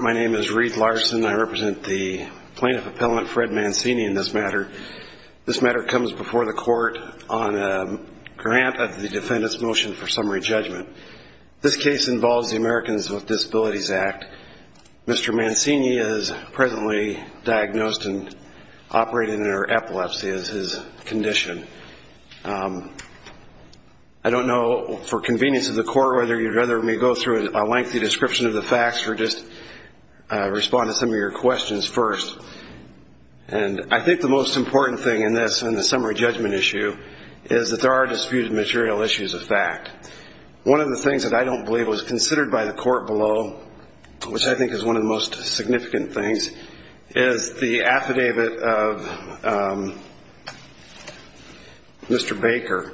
My name is Reed Larson. I represent the plaintiff appellant Fred Mancini in this matter. This matter comes before the court on a grant of the defendant's motion for summary judgment. This case involves the Americans with Disabilities Act. Mr. Mancini is presently diagnosed and suffering from epilepsy as his condition. I don't know for convenience of the court whether you'd rather me go through a lengthy description of the facts or just respond to some of your questions first. I think the most important thing in this, in the summary judgment issue, is that there are disputed material issues of fact. One of the things that I don't believe was considered by the court below, which I think is one of the most important, is Mr. Baker.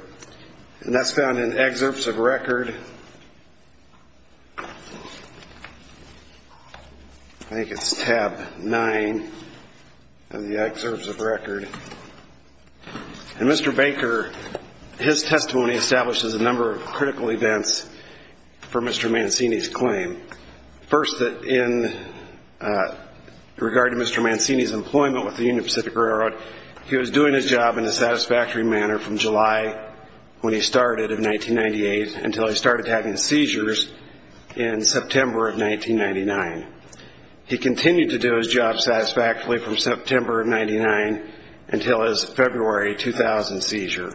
And that's found in excerpts of record. I think it's tab nine of the excerpts of record. And Mr. Baker, his testimony establishes a number of critical events for Mr. Mancini's claim. First, that in regard to Mr. Mancini's employment with the Union Pacific Railroad, he was doing his job in a satisfactory manner from July when he started in 1998 until he started having seizures in September of 1999. He continued to do his job satisfactorily from September of 99 until his February 2000 seizure.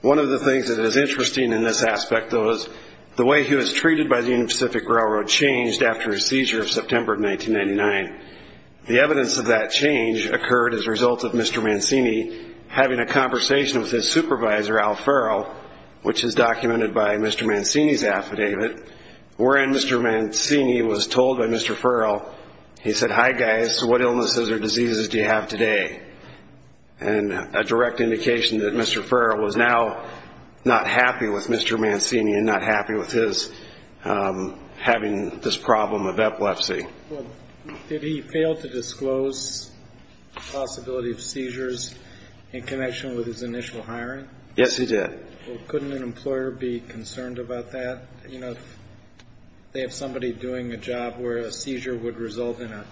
One of the things that is interesting in this aspect, though, is the way he was treated by the Union Pacific Railroad changed after his seizure of September of 1999. The evidence of that change occurred as a result of Mr. Mancini having a conversation with his supervisor, Al Farrell, which is documented by Mr. Mancini's affidavit, wherein Mr. Mancini was told by Mr. Farrell, he said, hi guys, what illnesses or diseases do you have today? And a direct indication that Mr. Farrell was now not happy with Mr. Mancini and not happy with his having this problem of epilepsy. Well, did he fail to disclose the possibility of seizures in connection with his initial hiring? Yes, he did. Well, couldn't an employer be concerned about that? You know, if they have somebody doing a job where a seizure would result in an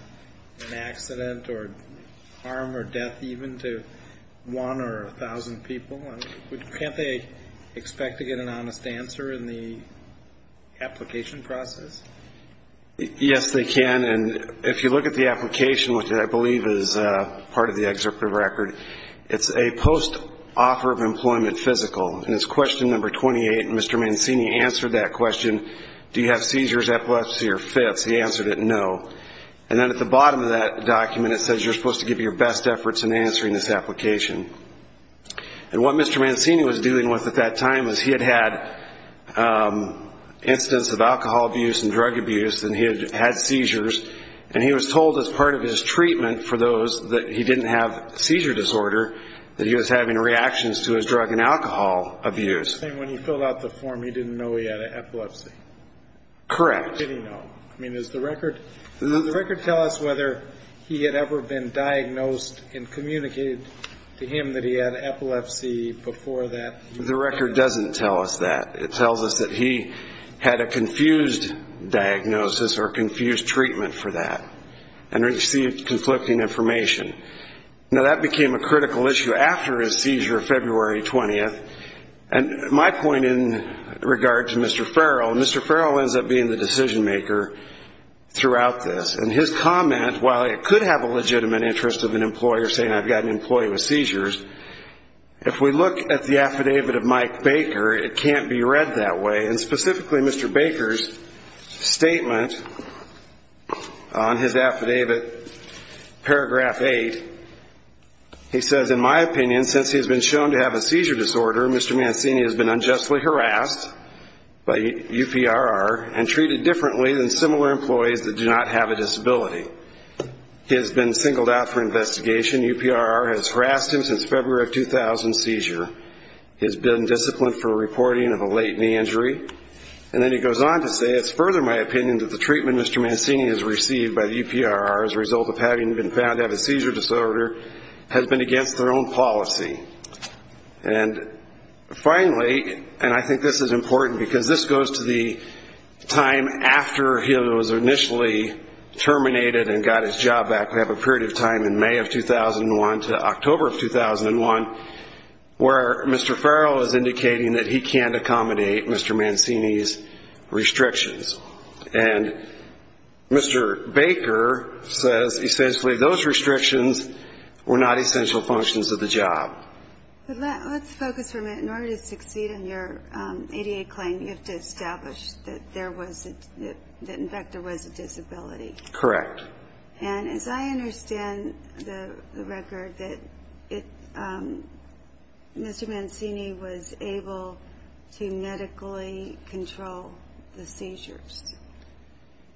accident or harm or death even to one or a thousand people, can't they expect to get an honest answer in the application process? Yes, they can. And if you look at the application, which I believe is part of the executive record, it's a post-offer of employment physical. And it's question number 28. And Mr. Mancini answered that question, do you have seizures, epilepsy, or fits? He answered it, no. And then at the bottom of that document, it says you're supposed to give your best efforts in answering this application. And what Mr. Mancini was dealing with at that time was he had had incidents of alcohol abuse and drug abuse, and he had seizures. And he was told as part of his treatment for those that he didn't have seizure disorder, that he was having reactions to his drug and alcohol abuse. He was saying when he filled out the form, he didn't know he had epilepsy. Correct. How did he know? I mean, does the record tell us whether he had ever been diagnosed and communicated to him that he had epilepsy before that? The record doesn't tell us that. It tells us that he had a confused diagnosis or confused treatment for that and received conflicting information. Now, that became a critical issue after his seizure February 20th. And my point in regard to Mr. Farrell, Mr. Farrell ends up being the decision maker throughout this. And his comment, while it could have a legitimate interest of an employer saying I've got an employee with seizures, if we look at the affidavit of Mike Baker, it can't be read that way. And specifically Mr. Baker's statement on his affidavit, paragraph 8, he says, in my opinion, since he has been shown to have a seizure disorder, Mr. Mancini has been unjustly harassed by UPRR and treated differently than similar employees that do not have a disability. He has been singled out for investigation. UPRR has harassed him since February of 2000 seizure. He has been disciplined for reporting of a late knee injury. And then he goes on to say, it's further my opinion that the treatment Mr. Mancini has received by the UPRR as a result of having been found to have a seizure disorder has been against their own policy. And finally, and I think this is important because this goes to the time after he was initially terminated and got his job back. We have a period of time in May of 2001 to October of 2001 where Mr. Farrell is indicating that he can't accommodate Mr. Mancini's restrictions. And Mr. Baker says essentially those restrictions were not essential functions of the job. Let's focus for a minute. In order to succeed in your ADA claim, you have to establish that there was, in fact, there was a disability. Correct. And as I understand the record, that Mr. Mancini was able to medically control the seizures.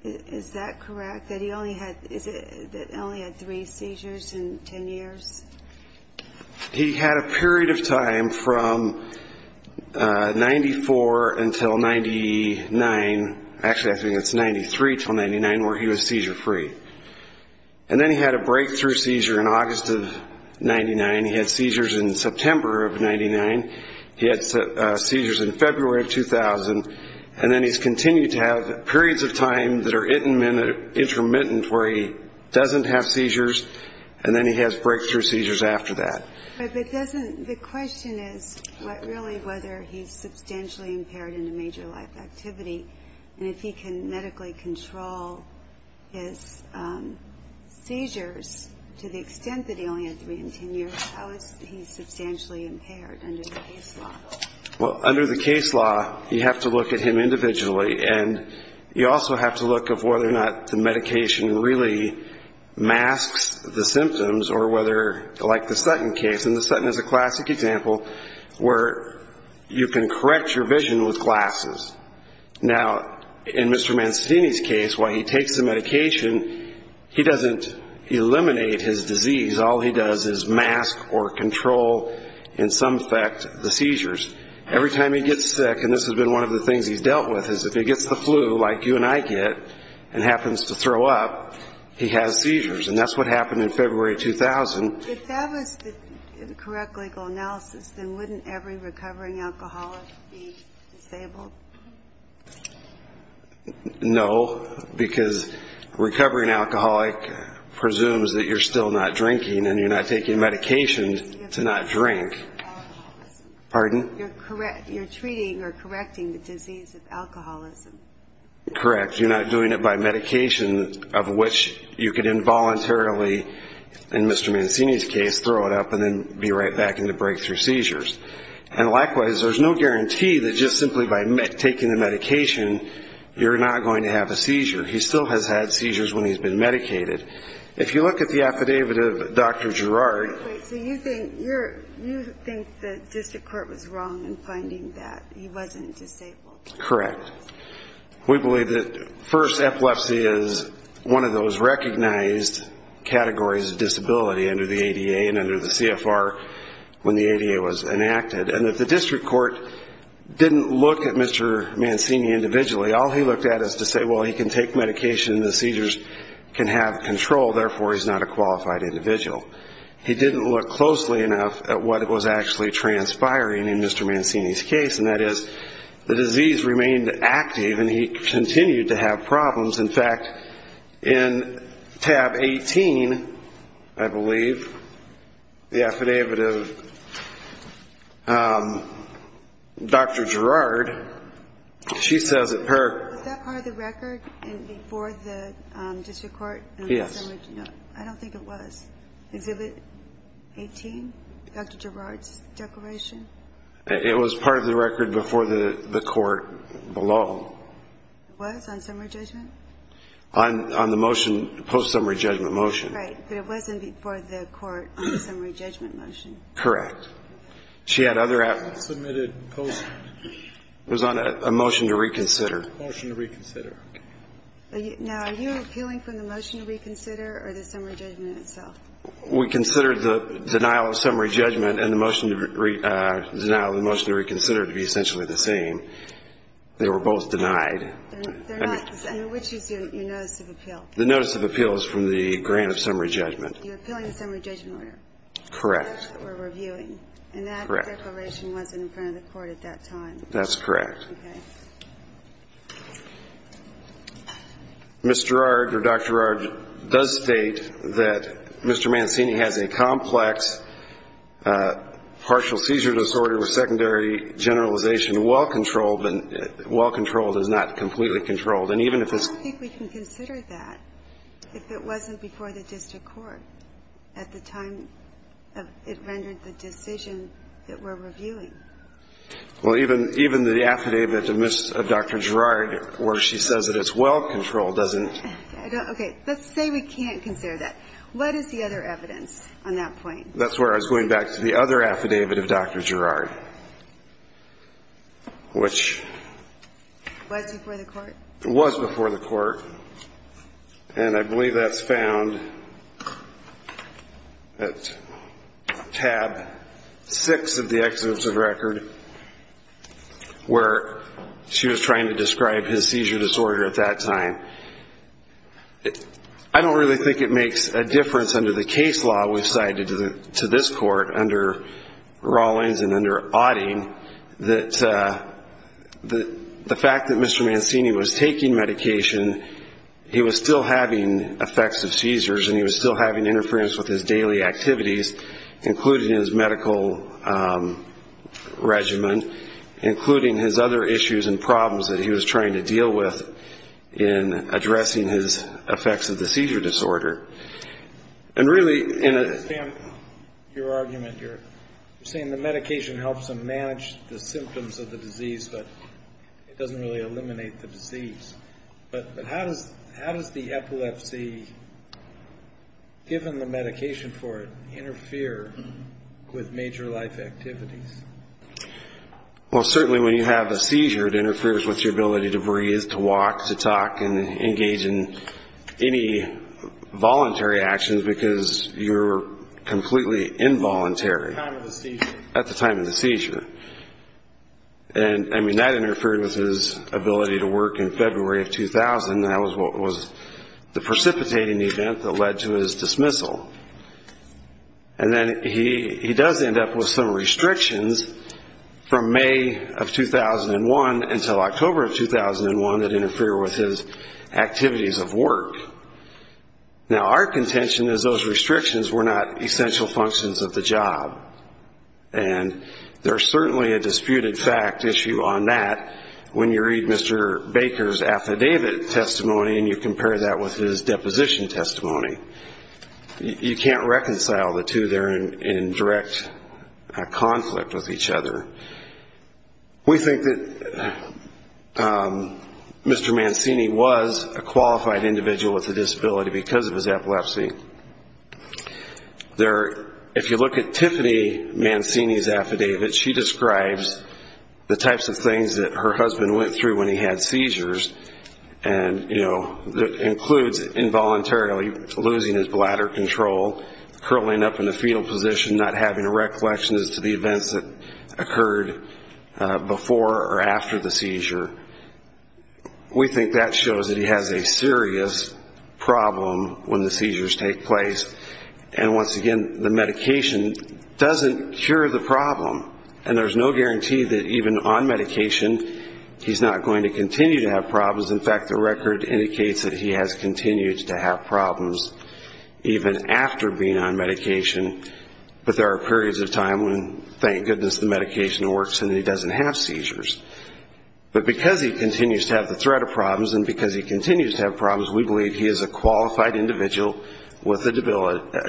Is that correct? That he only had three seizures in ten years? He had a period of time from 94 until 99, actually I think it's 93 until 99 where he was seizure free. And then he had a breakthrough seizure in August of 99. He had seizures in September of 99. He had seizures in February of 2000. And then he's continued to have periods of time that are intermittent where he doesn't have seizures. And then he has breakthrough seizures after that. But it doesn't, the question is really whether he's substantially impaired in a major life activity. And if he can medically control his seizures to the extent that he only had three in ten years, how is he substantially impaired under the case law? Well, under the case law, you have to look at him individually. And you also have to look at whether or not the medication really masks the symptoms or whether, like the Sutton case. And the Sutton is a classic example where you can correct your vision with glasses. Now in Mr. Mancini's case, while he takes the medication, he doesn't eliminate his disease. All he does is mask or control, in some effect, the seizures. Every time he gets sick, and this has been one of the things he's dealt with, is if he and happens to throw up, he has seizures. And that's what happened in February 2000. If that was the correct legal analysis, then wouldn't every recovering alcoholic be disabled? No, because a recovering alcoholic presumes that you're still not drinking and you're not taking medication to not drink. You're treating or correcting the disease of alcoholism. Correct. You're not doing it by medication of which you could involuntarily, in Mr. Mancini's case, throw it up and then be right back into breakthrough seizures. And likewise, there's no guarantee that just simply by taking the medication, you're not going to have a seizure. He still has had seizures when he's been medicated. If you look at the affidavit of Dr. Girard... So you think the district court was wrong in finding that he wasn't disabled? Correct. We believe that first, epilepsy is one of those recognized categories of disability under the ADA and under the CFR when the ADA was enacted. And that the district court didn't look at Mr. Mancini individually. All he looked at is to say, well, he can take medication and the seizures can have control, therefore he's not a qualified individual. He didn't look closely enough at what was actually transpiring in Mr. Mancini's case, and that is the disease remained active and he continued to have problems. In fact, in tab 18, I believe, the affidavit of Dr. Girard, she says that her... Was that part of the record before the district court? Yes. I don't think it was. Exhibit 18, Dr. Girard's declaration? It was part of the record before the court below. It was? On summary judgment? On the motion, post-summary judgment motion. Right, but it wasn't before the court on the summary judgment motion. Correct. She had other... Submitted post... It was on a motion to reconsider. Motion to reconsider. Now, are you appealing from the motion to reconsider or the summary judgment itself? We consider the denial of summary judgment and the motion to reconsider to be essentially the same. They were both denied. Which is your notice of appeal? The notice of appeal is from the grant of summary judgment. You're appealing the summary judgment order? Correct. That's what we're reviewing. Correct. And that declaration wasn't in front of the court at that time? That's correct. Okay. Ms. Girard, or Dr. Girard, does state that Mr. Mancini has a complex partial seizure disorder with secondary generalization, well-controlled, but well-controlled is not completely controlled. And even if it's... I don't think we can consider that if it wasn't before the district court at the time it rendered the decision that we're reviewing. Well, even the affidavit of Dr. Girard where she says that it's well-controlled doesn't... Okay. Let's say we can't consider that. What is the other evidence on that point? That's where I was going back to the other affidavit of Dr. Girard, which... Was before the court? Was before the court. And I believe that's found at tab 6 of the Exhibits of Record where she was trying to describe his seizure disorder at that time. I don't really think it makes a difference under the case law we've cited to this court, under Rawlings and under Odding, that the fact that Mr. Mancini was taking medication, he was still having effects of seizures and he was still having interference with his daily activities, including his medical regimen, including his other issues and problems that he was trying to deal with in addressing his effects of the seizure disorder. I understand your argument. You're saying the medication helps him manage the symptoms of the disease, but it doesn't really eliminate the disease. But how does the epilepsy, given the medication for it, interfere with major life activities? Well, certainly when you have a seizure, it interferes with your ability to breathe, to walk, to talk, and engage in any voluntary actions because you're completely involuntary at the time of the seizure. And, I mean, that interfered with his ability to work in February of 2000, and that was the precipitating event that led to his dismissal. And then he does end up with some restrictions from May of 2001 until October of 2001 that interfere with his activities of work. Now, our contention is those restrictions were not essential functions of the job. And there's certainly a disputed fact issue on that when you read Mr. Baker's affidavit testimony and you compare that with his deposition testimony. You can't reconcile the two. They're in direct conflict with each other. We think that Mr. Mancini was a qualified individual with a disability because of his epilepsy. If you look at Tiffany Mancini's affidavit, she describes the types of things that her husband went through when he had seizures, and that includes involuntarily losing his bladder control, curling up in the fetal position, not having a recollection as to the events that occurred before or after the seizure. We think that shows that he has a serious problem when the seizures take place. And, once again, the medication doesn't cure the problem. And there's no guarantee that even on medication he's not going to continue to have problems. In fact, the record indicates that he has continued to have problems even after being on medication. But there are periods of time when, thank goodness, the medication works and he doesn't have seizures. But because he continues to have the threat of problems and because he continues to have problems, we believe he is a qualified individual with a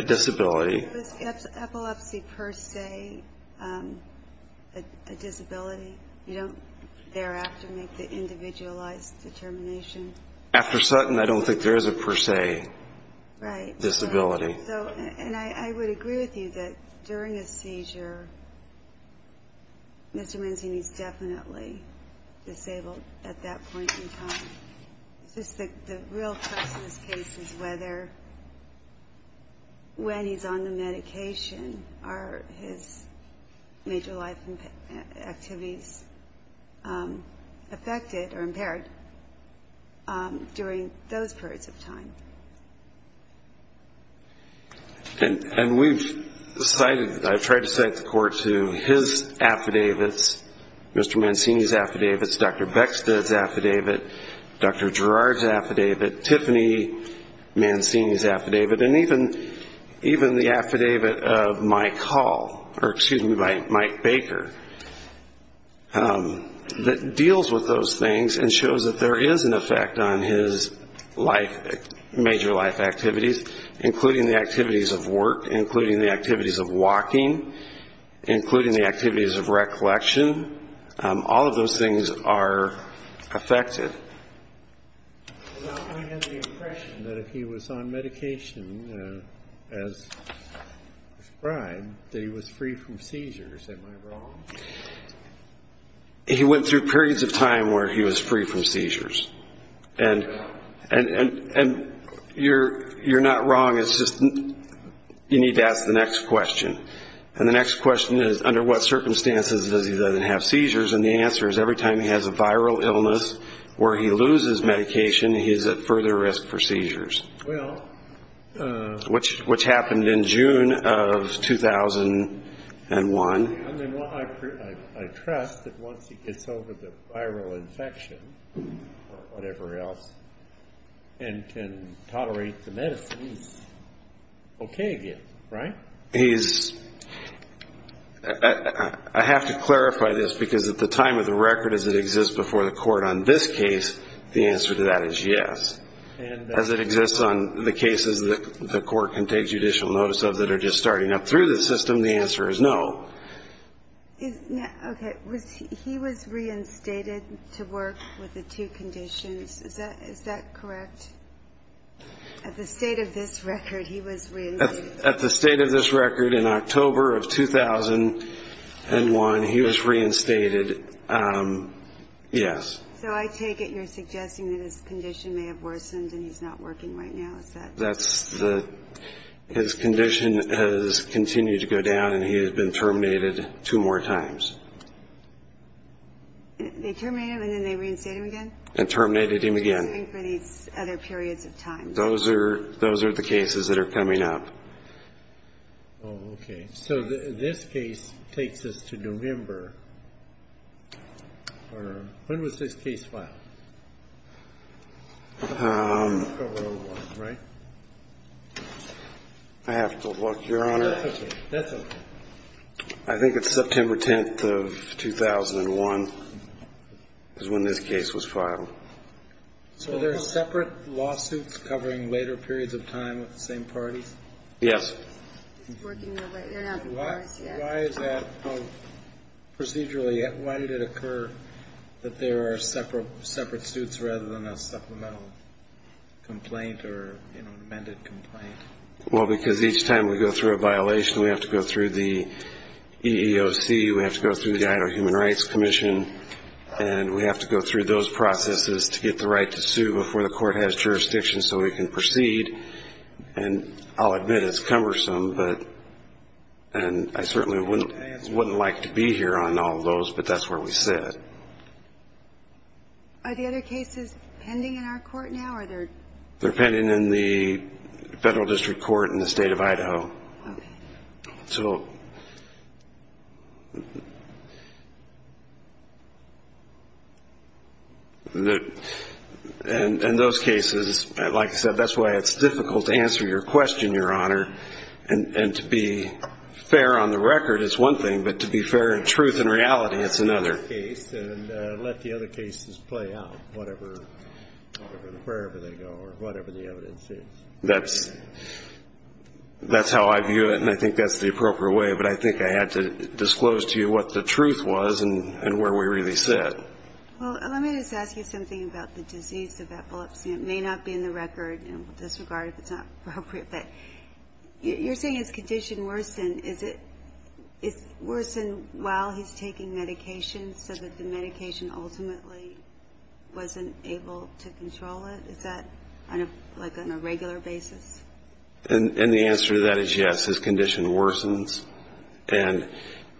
disability. Was epilepsy per se a disability? You don't thereafter make the individualized determination? After Sutton, I don't think there is a per se disability. And I would agree with you that during a seizure, Mr. Mancini is definitely disabled at that point in time. The real question in this case is whether, when he's on the medication, are his major life activities affected or impaired during those periods of time. And we've cited, I've tried to cite the court to his affidavits, Mr. Mancini's affidavits, Dr. Beckstead's affidavit, Dr. Girard's affidavit, Tiffany Mancini's affidavit, and even the affidavit of Mike Hall, or excuse me, by Mike Baker, that deals with those things and shows that there is an effect on his major life activities, including the activities of work, including the activities of walking, including the activities of recollection. All of those things are affected. I had the impression that if he was on medication, as prescribed, that he was free from seizures. Am I wrong? He went through periods of time where he was free from seizures. And you're not wrong, it's just you need to ask the next question. And the next question is, under what circumstances does he not have seizures? And the answer is, every time he has a viral illness where he loses medication, he is at further risk for seizures, which happened in June of 2001. I mean, I trust that once he gets over the viral infection or whatever else and can tolerate the medicine, he's okay again, right? I have to clarify this, because at the time of the record, as it exists before the court on this case, the answer to that is yes. And as it exists on the cases that the court can take judicial notice of that are just starting up through the system, the answer is no. Okay, he was reinstated to work with the two conditions. Is that correct? At the state of this record, he was reinstated. At the state of this record, in October of 2001, he was reinstated, yes. So I take it you're suggesting that his condition may have worsened and he's not working right now, is that correct? His condition has continued to go down, and he has been terminated two more times. They terminated him, and then they reinstated him again? And terminated him again. What are they doing for these other periods of time? Those are the cases that are coming up. Oh, okay. So this case takes us to November. When was this case filed? October of 2001, right? I have to look, Your Honor. That's okay. That's okay. I think it's September 10th of 2001 is when this case was filed. So there are separate lawsuits covering later periods of time with the same parties? Yes. Why is that procedurally? Why did it occur that there are separate suits rather than a supplemental complaint or, you know, an amended complaint? Well, because each time we go through a violation, we have to go through the EEOC, we have to go through the Idaho Human Rights Commission, and we have to go through those processes to get the right to sue before the court has jurisdiction so we can proceed. And I'll admit it's cumbersome, and I certainly wouldn't like to be here on all those, but that's where we sit. Are the other cases pending in our court now? They're pending in the federal district court in the state of Idaho. So in those cases, like I said, that's why it's difficult to answer your question, Your Honor, and to be fair on the record is one thing, but to be fair in truth and reality is another. Let the other cases play out, wherever they go or whatever the evidence is. That's how I view it, and I think that's the appropriate way, but I think I had to disclose to you what the truth was and where we really sit. Well, let me just ask you something about the disease of epilepsy. It may not be in the record in this regard if it's not appropriate, but you're saying his condition worsened. Is it worsened while he's taking medication so that the medication ultimately wasn't able to control it? Is that like on a regular basis? And the answer to that is yes. His condition worsens, and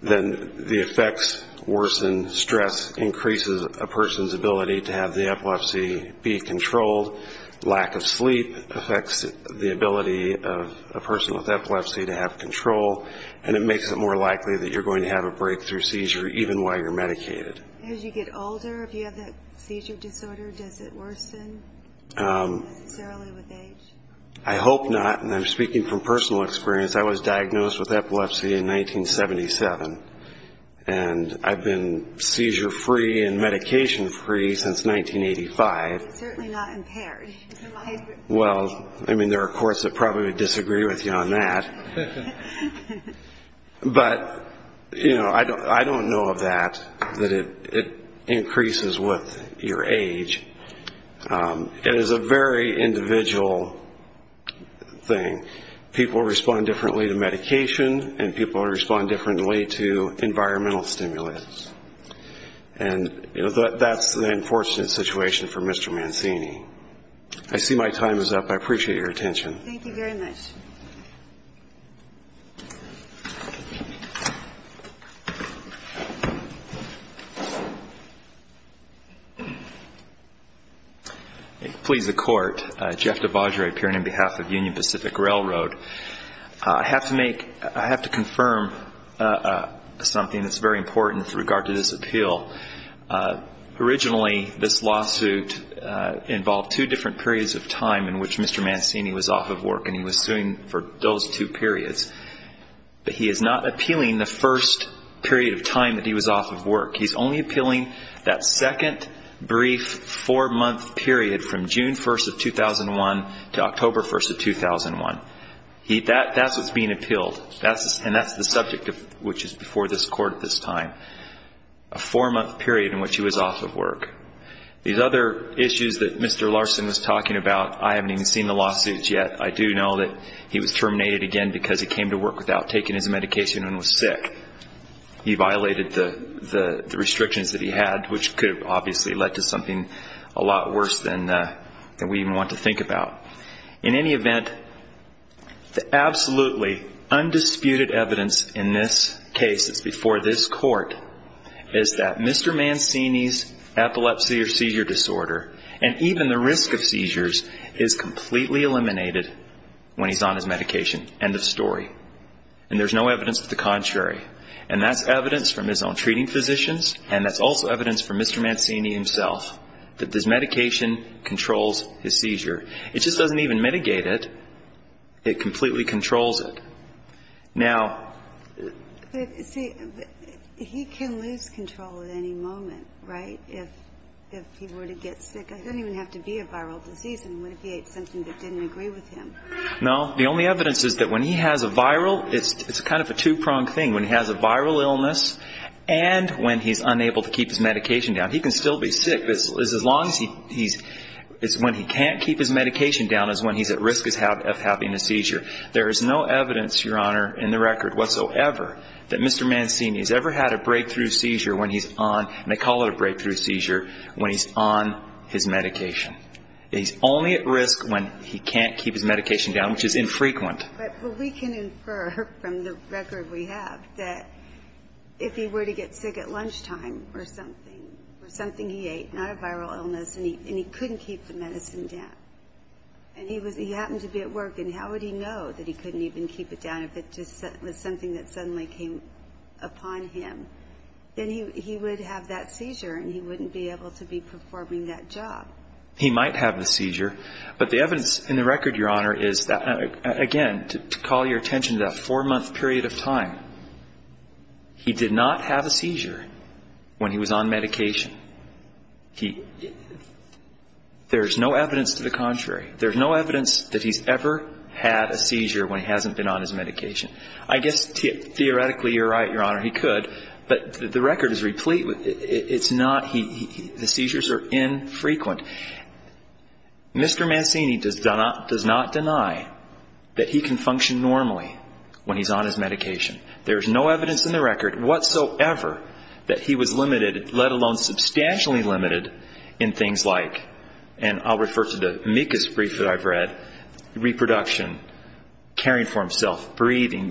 then the effects worsen. Stress increases a person's ability to have the epilepsy be controlled. Lack of sleep affects the ability of a person with epilepsy to have control, and it makes it more likely that you're going to have a breakthrough seizure, even while you're medicated. As you get older, if you have that seizure disorder, does it worsen necessarily with age? I hope not, and I'm speaking from personal experience. I was diagnosed with epilepsy in 1977, and I've been seizure-free and medication-free since 1985. You're certainly not impaired. Well, I mean, there are courts that probably would disagree with you on that, but, you know, I don't know of that, that it increases with your age. It is a very individual thing. People respond differently to medication, and people respond differently to environmental stimulus, and that's an unfortunate situation for Mr. Mancini. I see my time is up. I appreciate your attention. Thank you very much. Please, the Court. Jeff DeVagere, appearing on behalf of Union Pacific Railroad. I have to confirm something that's very important with regard to this appeal. Originally, this lawsuit involved two different periods of time in which Mr. Mancini was off of work, and he was suing for those two periods. But he is not appealing the first period of time that he was off of work. He's only appealing that second brief four-month period from June 1st of 2001 to October 1st of 2001. That's what's being appealed, and that's the subject which is before this Court at this time. A four-month period in which he was off of work. These other issues that Mr. Larson was talking about, I haven't even seen the lawsuits yet. I do know that he was terminated again because he came to work without taking his medication and was sick. He violated the restrictions that he had, which could have obviously led to something a lot worse than we even want to think about. In any event, the absolutely undisputed evidence in this case that's before this Court is that Mr. Mancini's epilepsy or seizure disorder, and even the risk of seizures, is completely eliminated when he's on his medication. End of story. And there's no evidence of the contrary. And that's evidence from his own treating physicians, and that's also evidence from Mr. Mancini himself that his medication controls his seizure. It just doesn't even mitigate it. It completely controls it. Now... But, see, he can lose control at any moment, right? If he were to get sick. It doesn't even have to be a viral disease. I mean, what if he ate something that didn't agree with him? No. The only evidence is that when he has a viral, it's kind of a two-pronged thing. When he has a viral illness and when he's unable to keep his medication down, he can still be sick. As long as he's – when he can't keep his medication down is when he's at risk of having a seizure. There is no evidence, Your Honor, in the record whatsoever that Mr. Mancini has ever had a breakthrough seizure when he's on, and they call it a breakthrough seizure, when he's on his medication. He's only at risk when he can't keep his medication down, which is infrequent. But we can infer from the record we have that if he were to get sick at lunchtime or something, or something he ate, not a viral illness, and he couldn't keep the medicine down, and he happened to be at work, and how would he know that he couldn't even keep it down if it was something that suddenly came upon him? Then he would have that seizure, and he wouldn't be able to be performing that job. He might have the seizure, but the evidence in the record, Your Honor, is that, again, to call your attention to that four-month period of time, he did not have a seizure when he was on medication. There's no evidence to the contrary. There's no evidence that he's ever had a seizure when he hasn't been on his medication. I guess theoretically you're right, Your Honor, he could, but the record is replete. It's not – the seizures are infrequent. Mr. Mancini does not deny that he can function normally when he's on his medication. There's no evidence in the record whatsoever that he was limited, let alone substantially limited, in things like – and I'll refer to the Mikas brief that I've read – reproduction, caring for himself, breathing,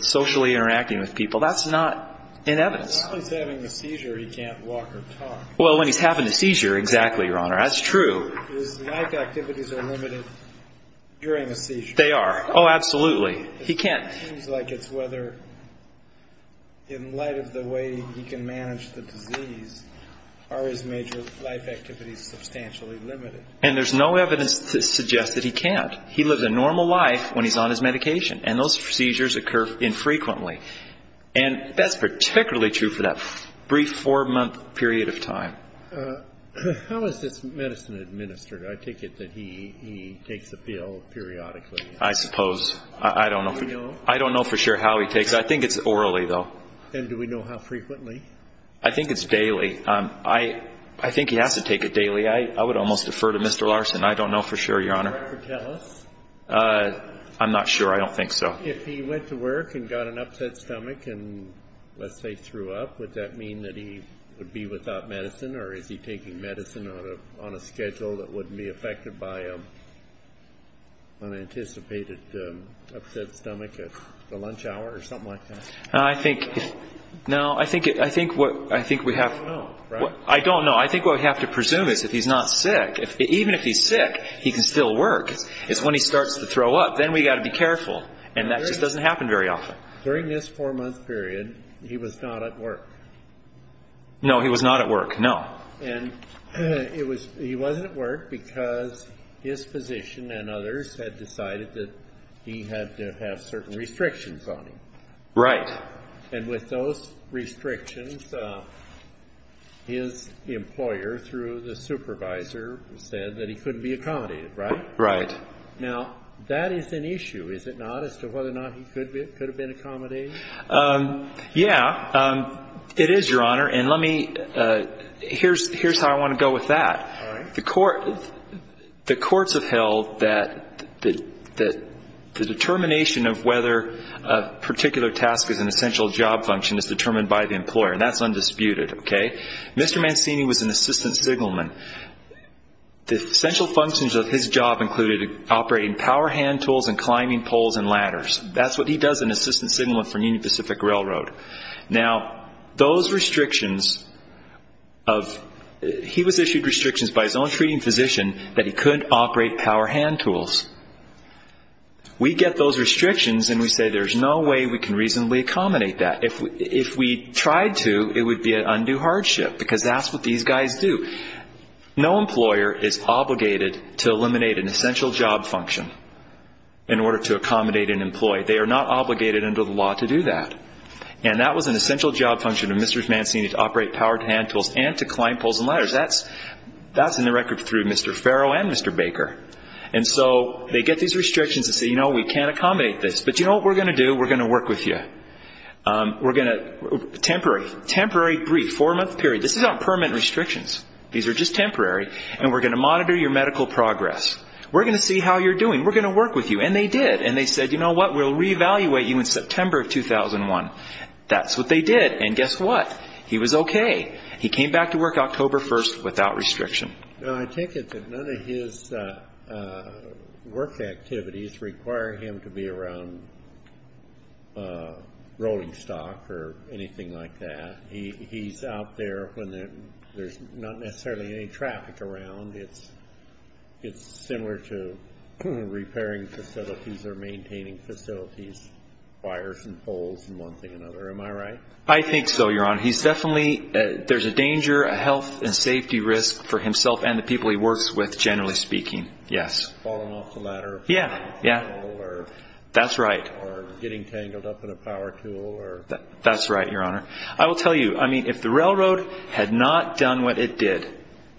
socially interacting with people. That's not in evidence. As long as he's having a seizure, he can't walk or talk. Well, when he's having a seizure, exactly, Your Honor, that's true. His life activities are limited during a seizure. They are. Oh, absolutely. He can't – It seems like it's whether, in light of the way he can manage the disease, are his major life activities substantially limited. And there's no evidence to suggest that he can't. He lives a normal life when he's on his medication, and those seizures occur infrequently. And that's particularly true for that brief four-month period of time. How is this medicine administered? I take it that he takes a pill periodically. I suppose. I don't know. Do you know? I don't know for sure how he takes it. I think it's orally, though. And do we know how frequently? I think it's daily. I think he has to take it daily. I would almost defer to Mr. Larson. I don't know for sure, Your Honor. Would he ever tell us? I'm not sure. I don't think so. If he went to work and got an upset stomach and, let's say, threw up, would that mean that he would be without medicine, or is he taking medicine on a schedule that wouldn't be affected by an anticipated upset stomach at the lunch hour or something like that? I think – no, I think what – I think we have – You don't know, right? I don't know. I think what we have to presume is if he's not sick – even if he's sick, he can still work. It's when he starts to throw up. Then we've got to be careful. And that just doesn't happen very often. During this four-month period, he was not at work. No, he was not at work. No. And it was – he wasn't at work because his physician and others had decided that he had to have certain restrictions on him. Right. And with those restrictions, his employer, through the supervisor, said that he couldn't be accommodated, right? Right. Now, that is an issue, is it not, as to whether or not he could have been accommodated? Yeah, it is, Your Honor, and let me – here's how I want to go with that. All right. The courts have held that the determination of whether a particular task is an essential job function is determined by the employer, and that's undisputed, okay? Mr. Mancini was an assistant signalman. The essential functions of his job included operating power hand tools and climbing poles and ladders. That's what he does, an assistant signalman for Union Pacific Railroad. Now, those restrictions of – he was issued restrictions by his own treating physician that he couldn't operate power hand tools. We get those restrictions and we say there's no way we can reasonably accommodate that. If we tried to, it would be an undue hardship because that's what these guys do. No employer is obligated to eliminate an essential job function in order to accommodate an employee. They are not obligated under the law to do that. And that was an essential job function of Mr. Mancini, to operate power hand tools and to climb poles and ladders. That's in the record through Mr. Farrow and Mr. Baker. And so they get these restrictions and say, you know, we can't accommodate this, but you know what we're going to do? We're going to work with you. We're going to – temporary. Temporary brief, four-month period. This is not permit restrictions. These are just temporary. And we're going to monitor your medical progress. We're going to see how you're doing. We're going to work with you. And they did. And they said, you know what, we'll reevaluate you in September of 2001. That's what they did. And guess what? He was okay. He came back to work October 1st without restriction. I take it that none of his work activities require him to be around rolling stock or anything like that. He's out there when there's not necessarily any traffic around. It's similar to repairing facilities or maintaining facilities, wires and poles and one thing or another. Am I right? I think so, Your Honor. There's a danger, a health and safety risk for himself and the people he works with, generally speaking. Yes. Falling off the ladder. Yeah, yeah. Or getting tangled up in a power tool. That's right, Your Honor. I will tell you, I mean, if the railroad had not done what it did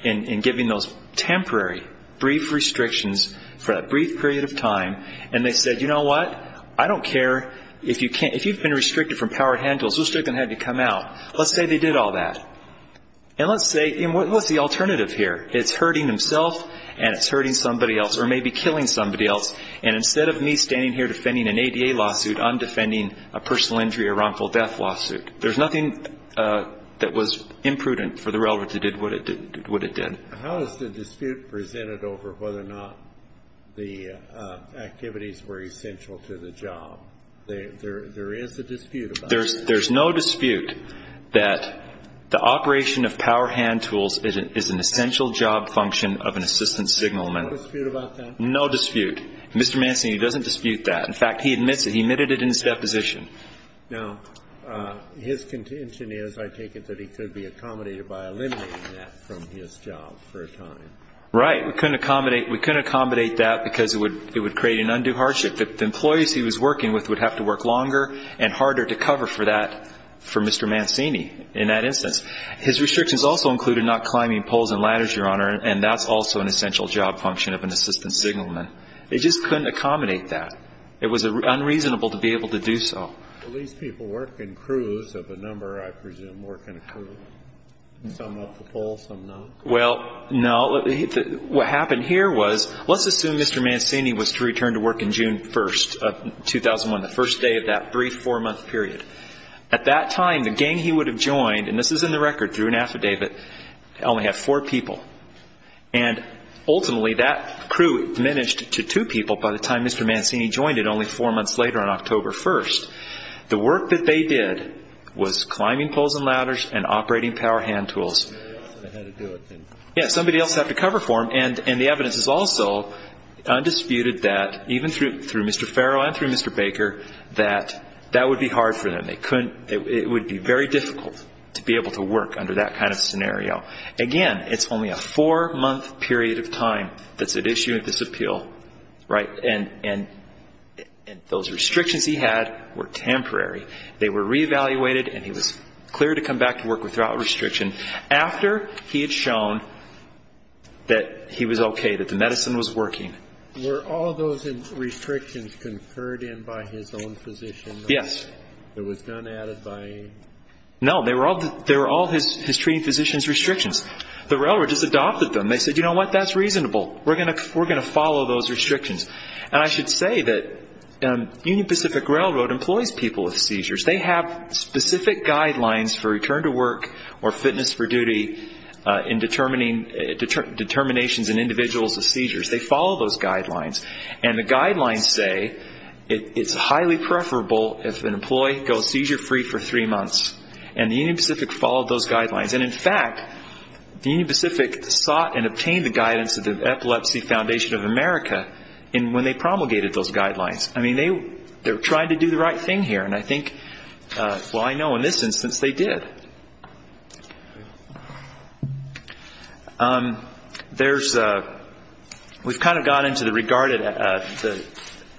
in giving those temporary brief restrictions for that brief period of time and they said, you know what, I don't care. If you've been restricted from power handles, who's still going to have you come out? Let's say they did all that. And let's say, what's the alternative here? It's hurting himself and it's hurting somebody else or maybe killing somebody else. And instead of me standing here defending an ADA lawsuit, I'm defending a personal injury or wrongful death lawsuit. There's nothing that was imprudent for the railroad that did what it did. How is the dispute presented over whether or not the activities were essential to the job? There is a dispute about that. There's no dispute that the operation of power hand tools is an essential job function of an assistance signalman. There's no dispute about that? No dispute. Mr. Manson, he doesn't dispute that. In fact, he admits it. He admitted it in his deposition. Now, his contention is, I take it, that he could be accommodated by eliminating that from his job for a time. Right. We couldn't accommodate that because it would create an undue hardship. The employees he was working with would have to work longer and harder to cover for that, for Mr. Mancini in that instance. His restrictions also included not climbing poles and ladders, Your Honor, and that's also an essential job function of an assistance signalman. They just couldn't accommodate that. It was unreasonable to be able to do so. Well, these people work in crews of a number, I presume, work in a crew, some up the pole, some not. Well, no. What happened here was, let's assume Mr. Mancini was to return to work on June 1st of 2001, the first day of that brief four-month period. At that time, the gang he would have joined, and this is in the record through an affidavit, only had four people. And ultimately, that crew diminished to two people by the time Mr. Mancini joined it only four months later on October 1st. The work that they did was climbing poles and ladders and operating power hand tools. Yes, somebody else had to cover for him, and the evidence is also undisputed that, even through Mr. Farrow and through Mr. Baker, that that would be hard for them. It would be very difficult to be able to work under that kind of scenario. Again, it's only a four-month period of time that's at issue with this appeal, right? And those restrictions he had were temporary. They were reevaluated, and he was clear to come back to work without restriction after he had shown that he was okay, that the medicine was working. Were all those restrictions conferred in by his own physician? Yes. It was not added by him? No. They were all his treating physician's restrictions. The railroad just adopted them. They said, you know what? That's reasonable. We're going to follow those restrictions. And I should say that Union Pacific Railroad employs people with seizures. They have specific guidelines for return to work or fitness for duty in determinations in individuals with seizures. They follow those guidelines. And the guidelines say it's highly preferable if an employee goes seizure-free for three months. And the Union Pacific followed those guidelines. And, in fact, the Union Pacific sought and obtained the guidance of the Epilepsy Foundation of America when they promulgated those guidelines. I mean, they were trying to do the right thing here. And I think, well, I know in this instance they did. We've kind of got into the regarded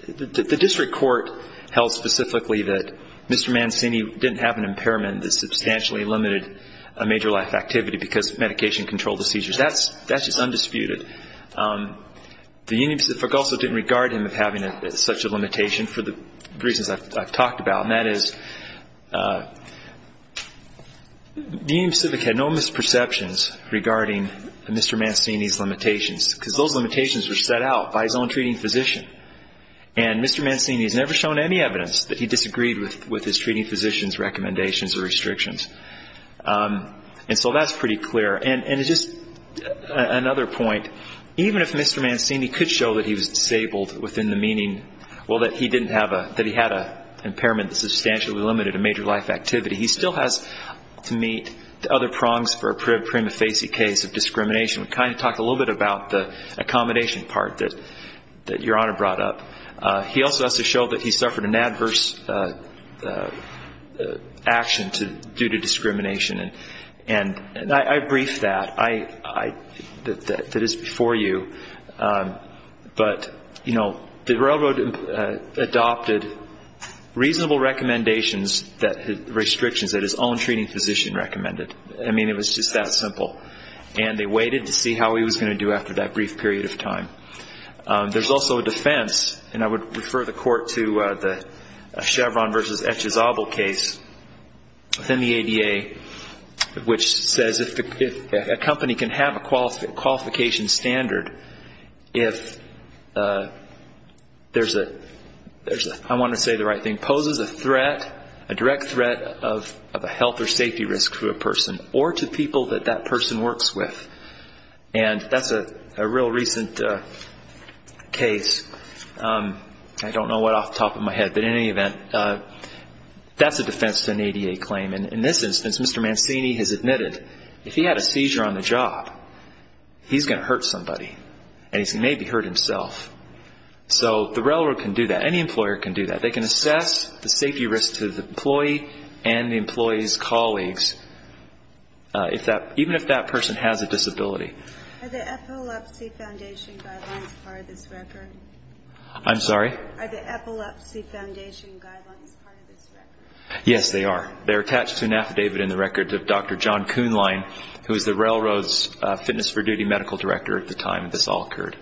the district court held specifically that Mr. Mancini didn't have an impairment that substantially limited a major life activity because of medication-controlled seizures. That's just undisputed. The Union Pacific also didn't regard him as having such a limitation for the reasons I've talked about, and that is the Union Pacific had no misperceptions regarding Mr. Mancini's limitations because those limitations were set out by his own treating physician. And Mr. Mancini has never shown any evidence that he disagreed with his treating physician's recommendations or restrictions. And so that's pretty clear. And just another point, even if Mr. Mancini could show that he was disabled within the meaning, well, that he had an impairment that substantially limited a major life activity, he still has to meet the other prongs for a prima facie case of discrimination. We kind of talked a little bit about the accommodation part that Your Honor brought up. He also has to show that he suffered an adverse action due to discrimination. And I briefed that. That is before you. But, you know, the railroad adopted reasonable recommendations, restrictions, that his own treating physician recommended. I mean, it was just that simple. And they waited to see how he was going to do after that brief period of time. There's also a defense, and I would refer the Court to the Chevron v. Echezable case within the ADA, which says if a company can have a qualification standard if there's a, I want to say the right thing, poses a threat, a direct threat of a health or safety risk to a person or to people that that person works with. And that's a real recent case. I don't know what off the top of my head, but in any event, that's a defense to an ADA claim. And in this instance, Mr. Mancini has admitted if he had a seizure on the job, he's going to hurt somebody. And he's going to maybe hurt himself. So the railroad can do that. Any employer can do that. They can assess the safety risk to the employee and the employee's colleagues, even if that person has a disability. Are the Epilepsy Foundation guidelines part of this record? I'm sorry? Are the Epilepsy Foundation guidelines part of this record? Yes, they are. They're attached to an affidavit in the record of Dr. John Kuhnlein, who was the railroad's fitness for duty medical director at the time this all occurred.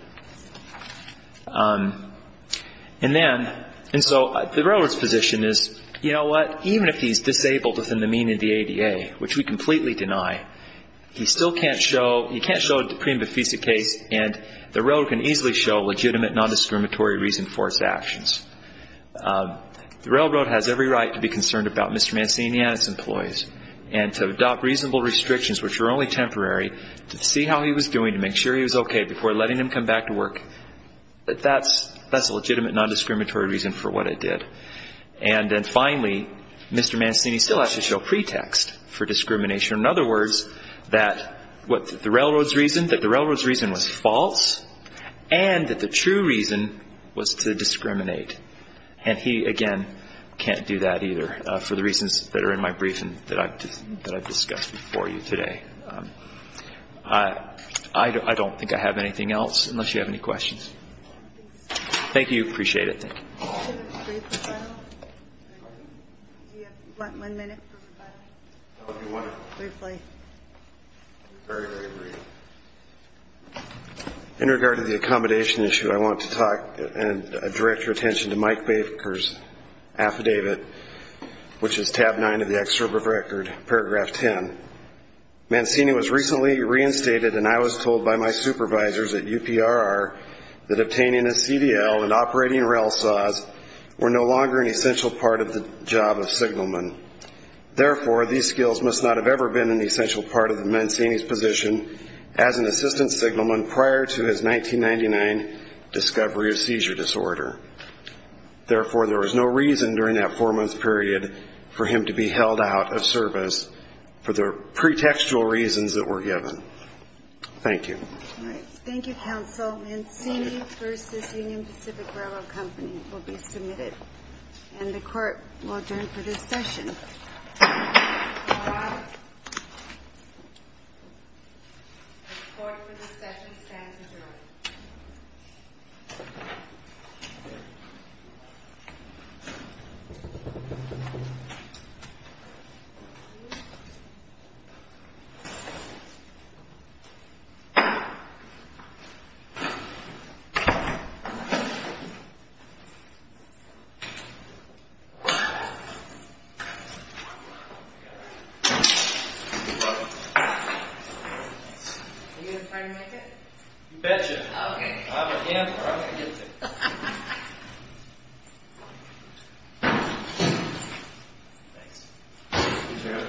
And then, and so the railroad's position is, you know what, even if he's disabled within the mean of the ADA, which we completely deny, he still can't show, he can't show a deprime bifida case, and the railroad can easily show legitimate nondiscriminatory reason for its actions. The railroad has every right to be concerned about Mr. Mancini and his employees and to adopt reasonable restrictions, which are only temporary, to see how he was doing, to make sure he was okay before letting him come back to work. That's a legitimate nondiscriminatory reason for what it did. And then finally, Mr. Mancini still has to show pretext for discrimination. In other words, that the railroad's reason was false and that the true reason was to discriminate. And he, again, can't do that either for the reasons that are in my briefing that I've discussed before you today. I don't think I have anything else, unless you have any questions. Thank you. Appreciate it. Thank you. Do you have one minute? Briefly. Very, very brief. In regard to the accommodation issue, I want to direct your attention to Mike Baker's affidavit, which is tab 9 of the excerpt of record, paragraph 10. Mancini was recently reinstated, and I was told by my supervisors at UPRR that obtaining a CDL and operating rail saws were no longer an essential part of the job of signalman. Therefore, these skills must not have ever been an essential part of Mancini's position as an assistant signalman prior to his 1999 discovery of seizure disorder. Therefore, there was no reason during that four-month period for him to be held out of service for the pretextual reasons that were given. Thank you. All right. Thank you, counsel. Mancini v. Union Pacific Railroad Company will be submitted, and the court will adjourn for this session. All right. The court for this session stands adjourned. Thank you. You're welcome. Are you going to try to make it? You betcha. Okay. I'm a gambler. I'm going to get to it. Thanks. He's here. Oh, yeah.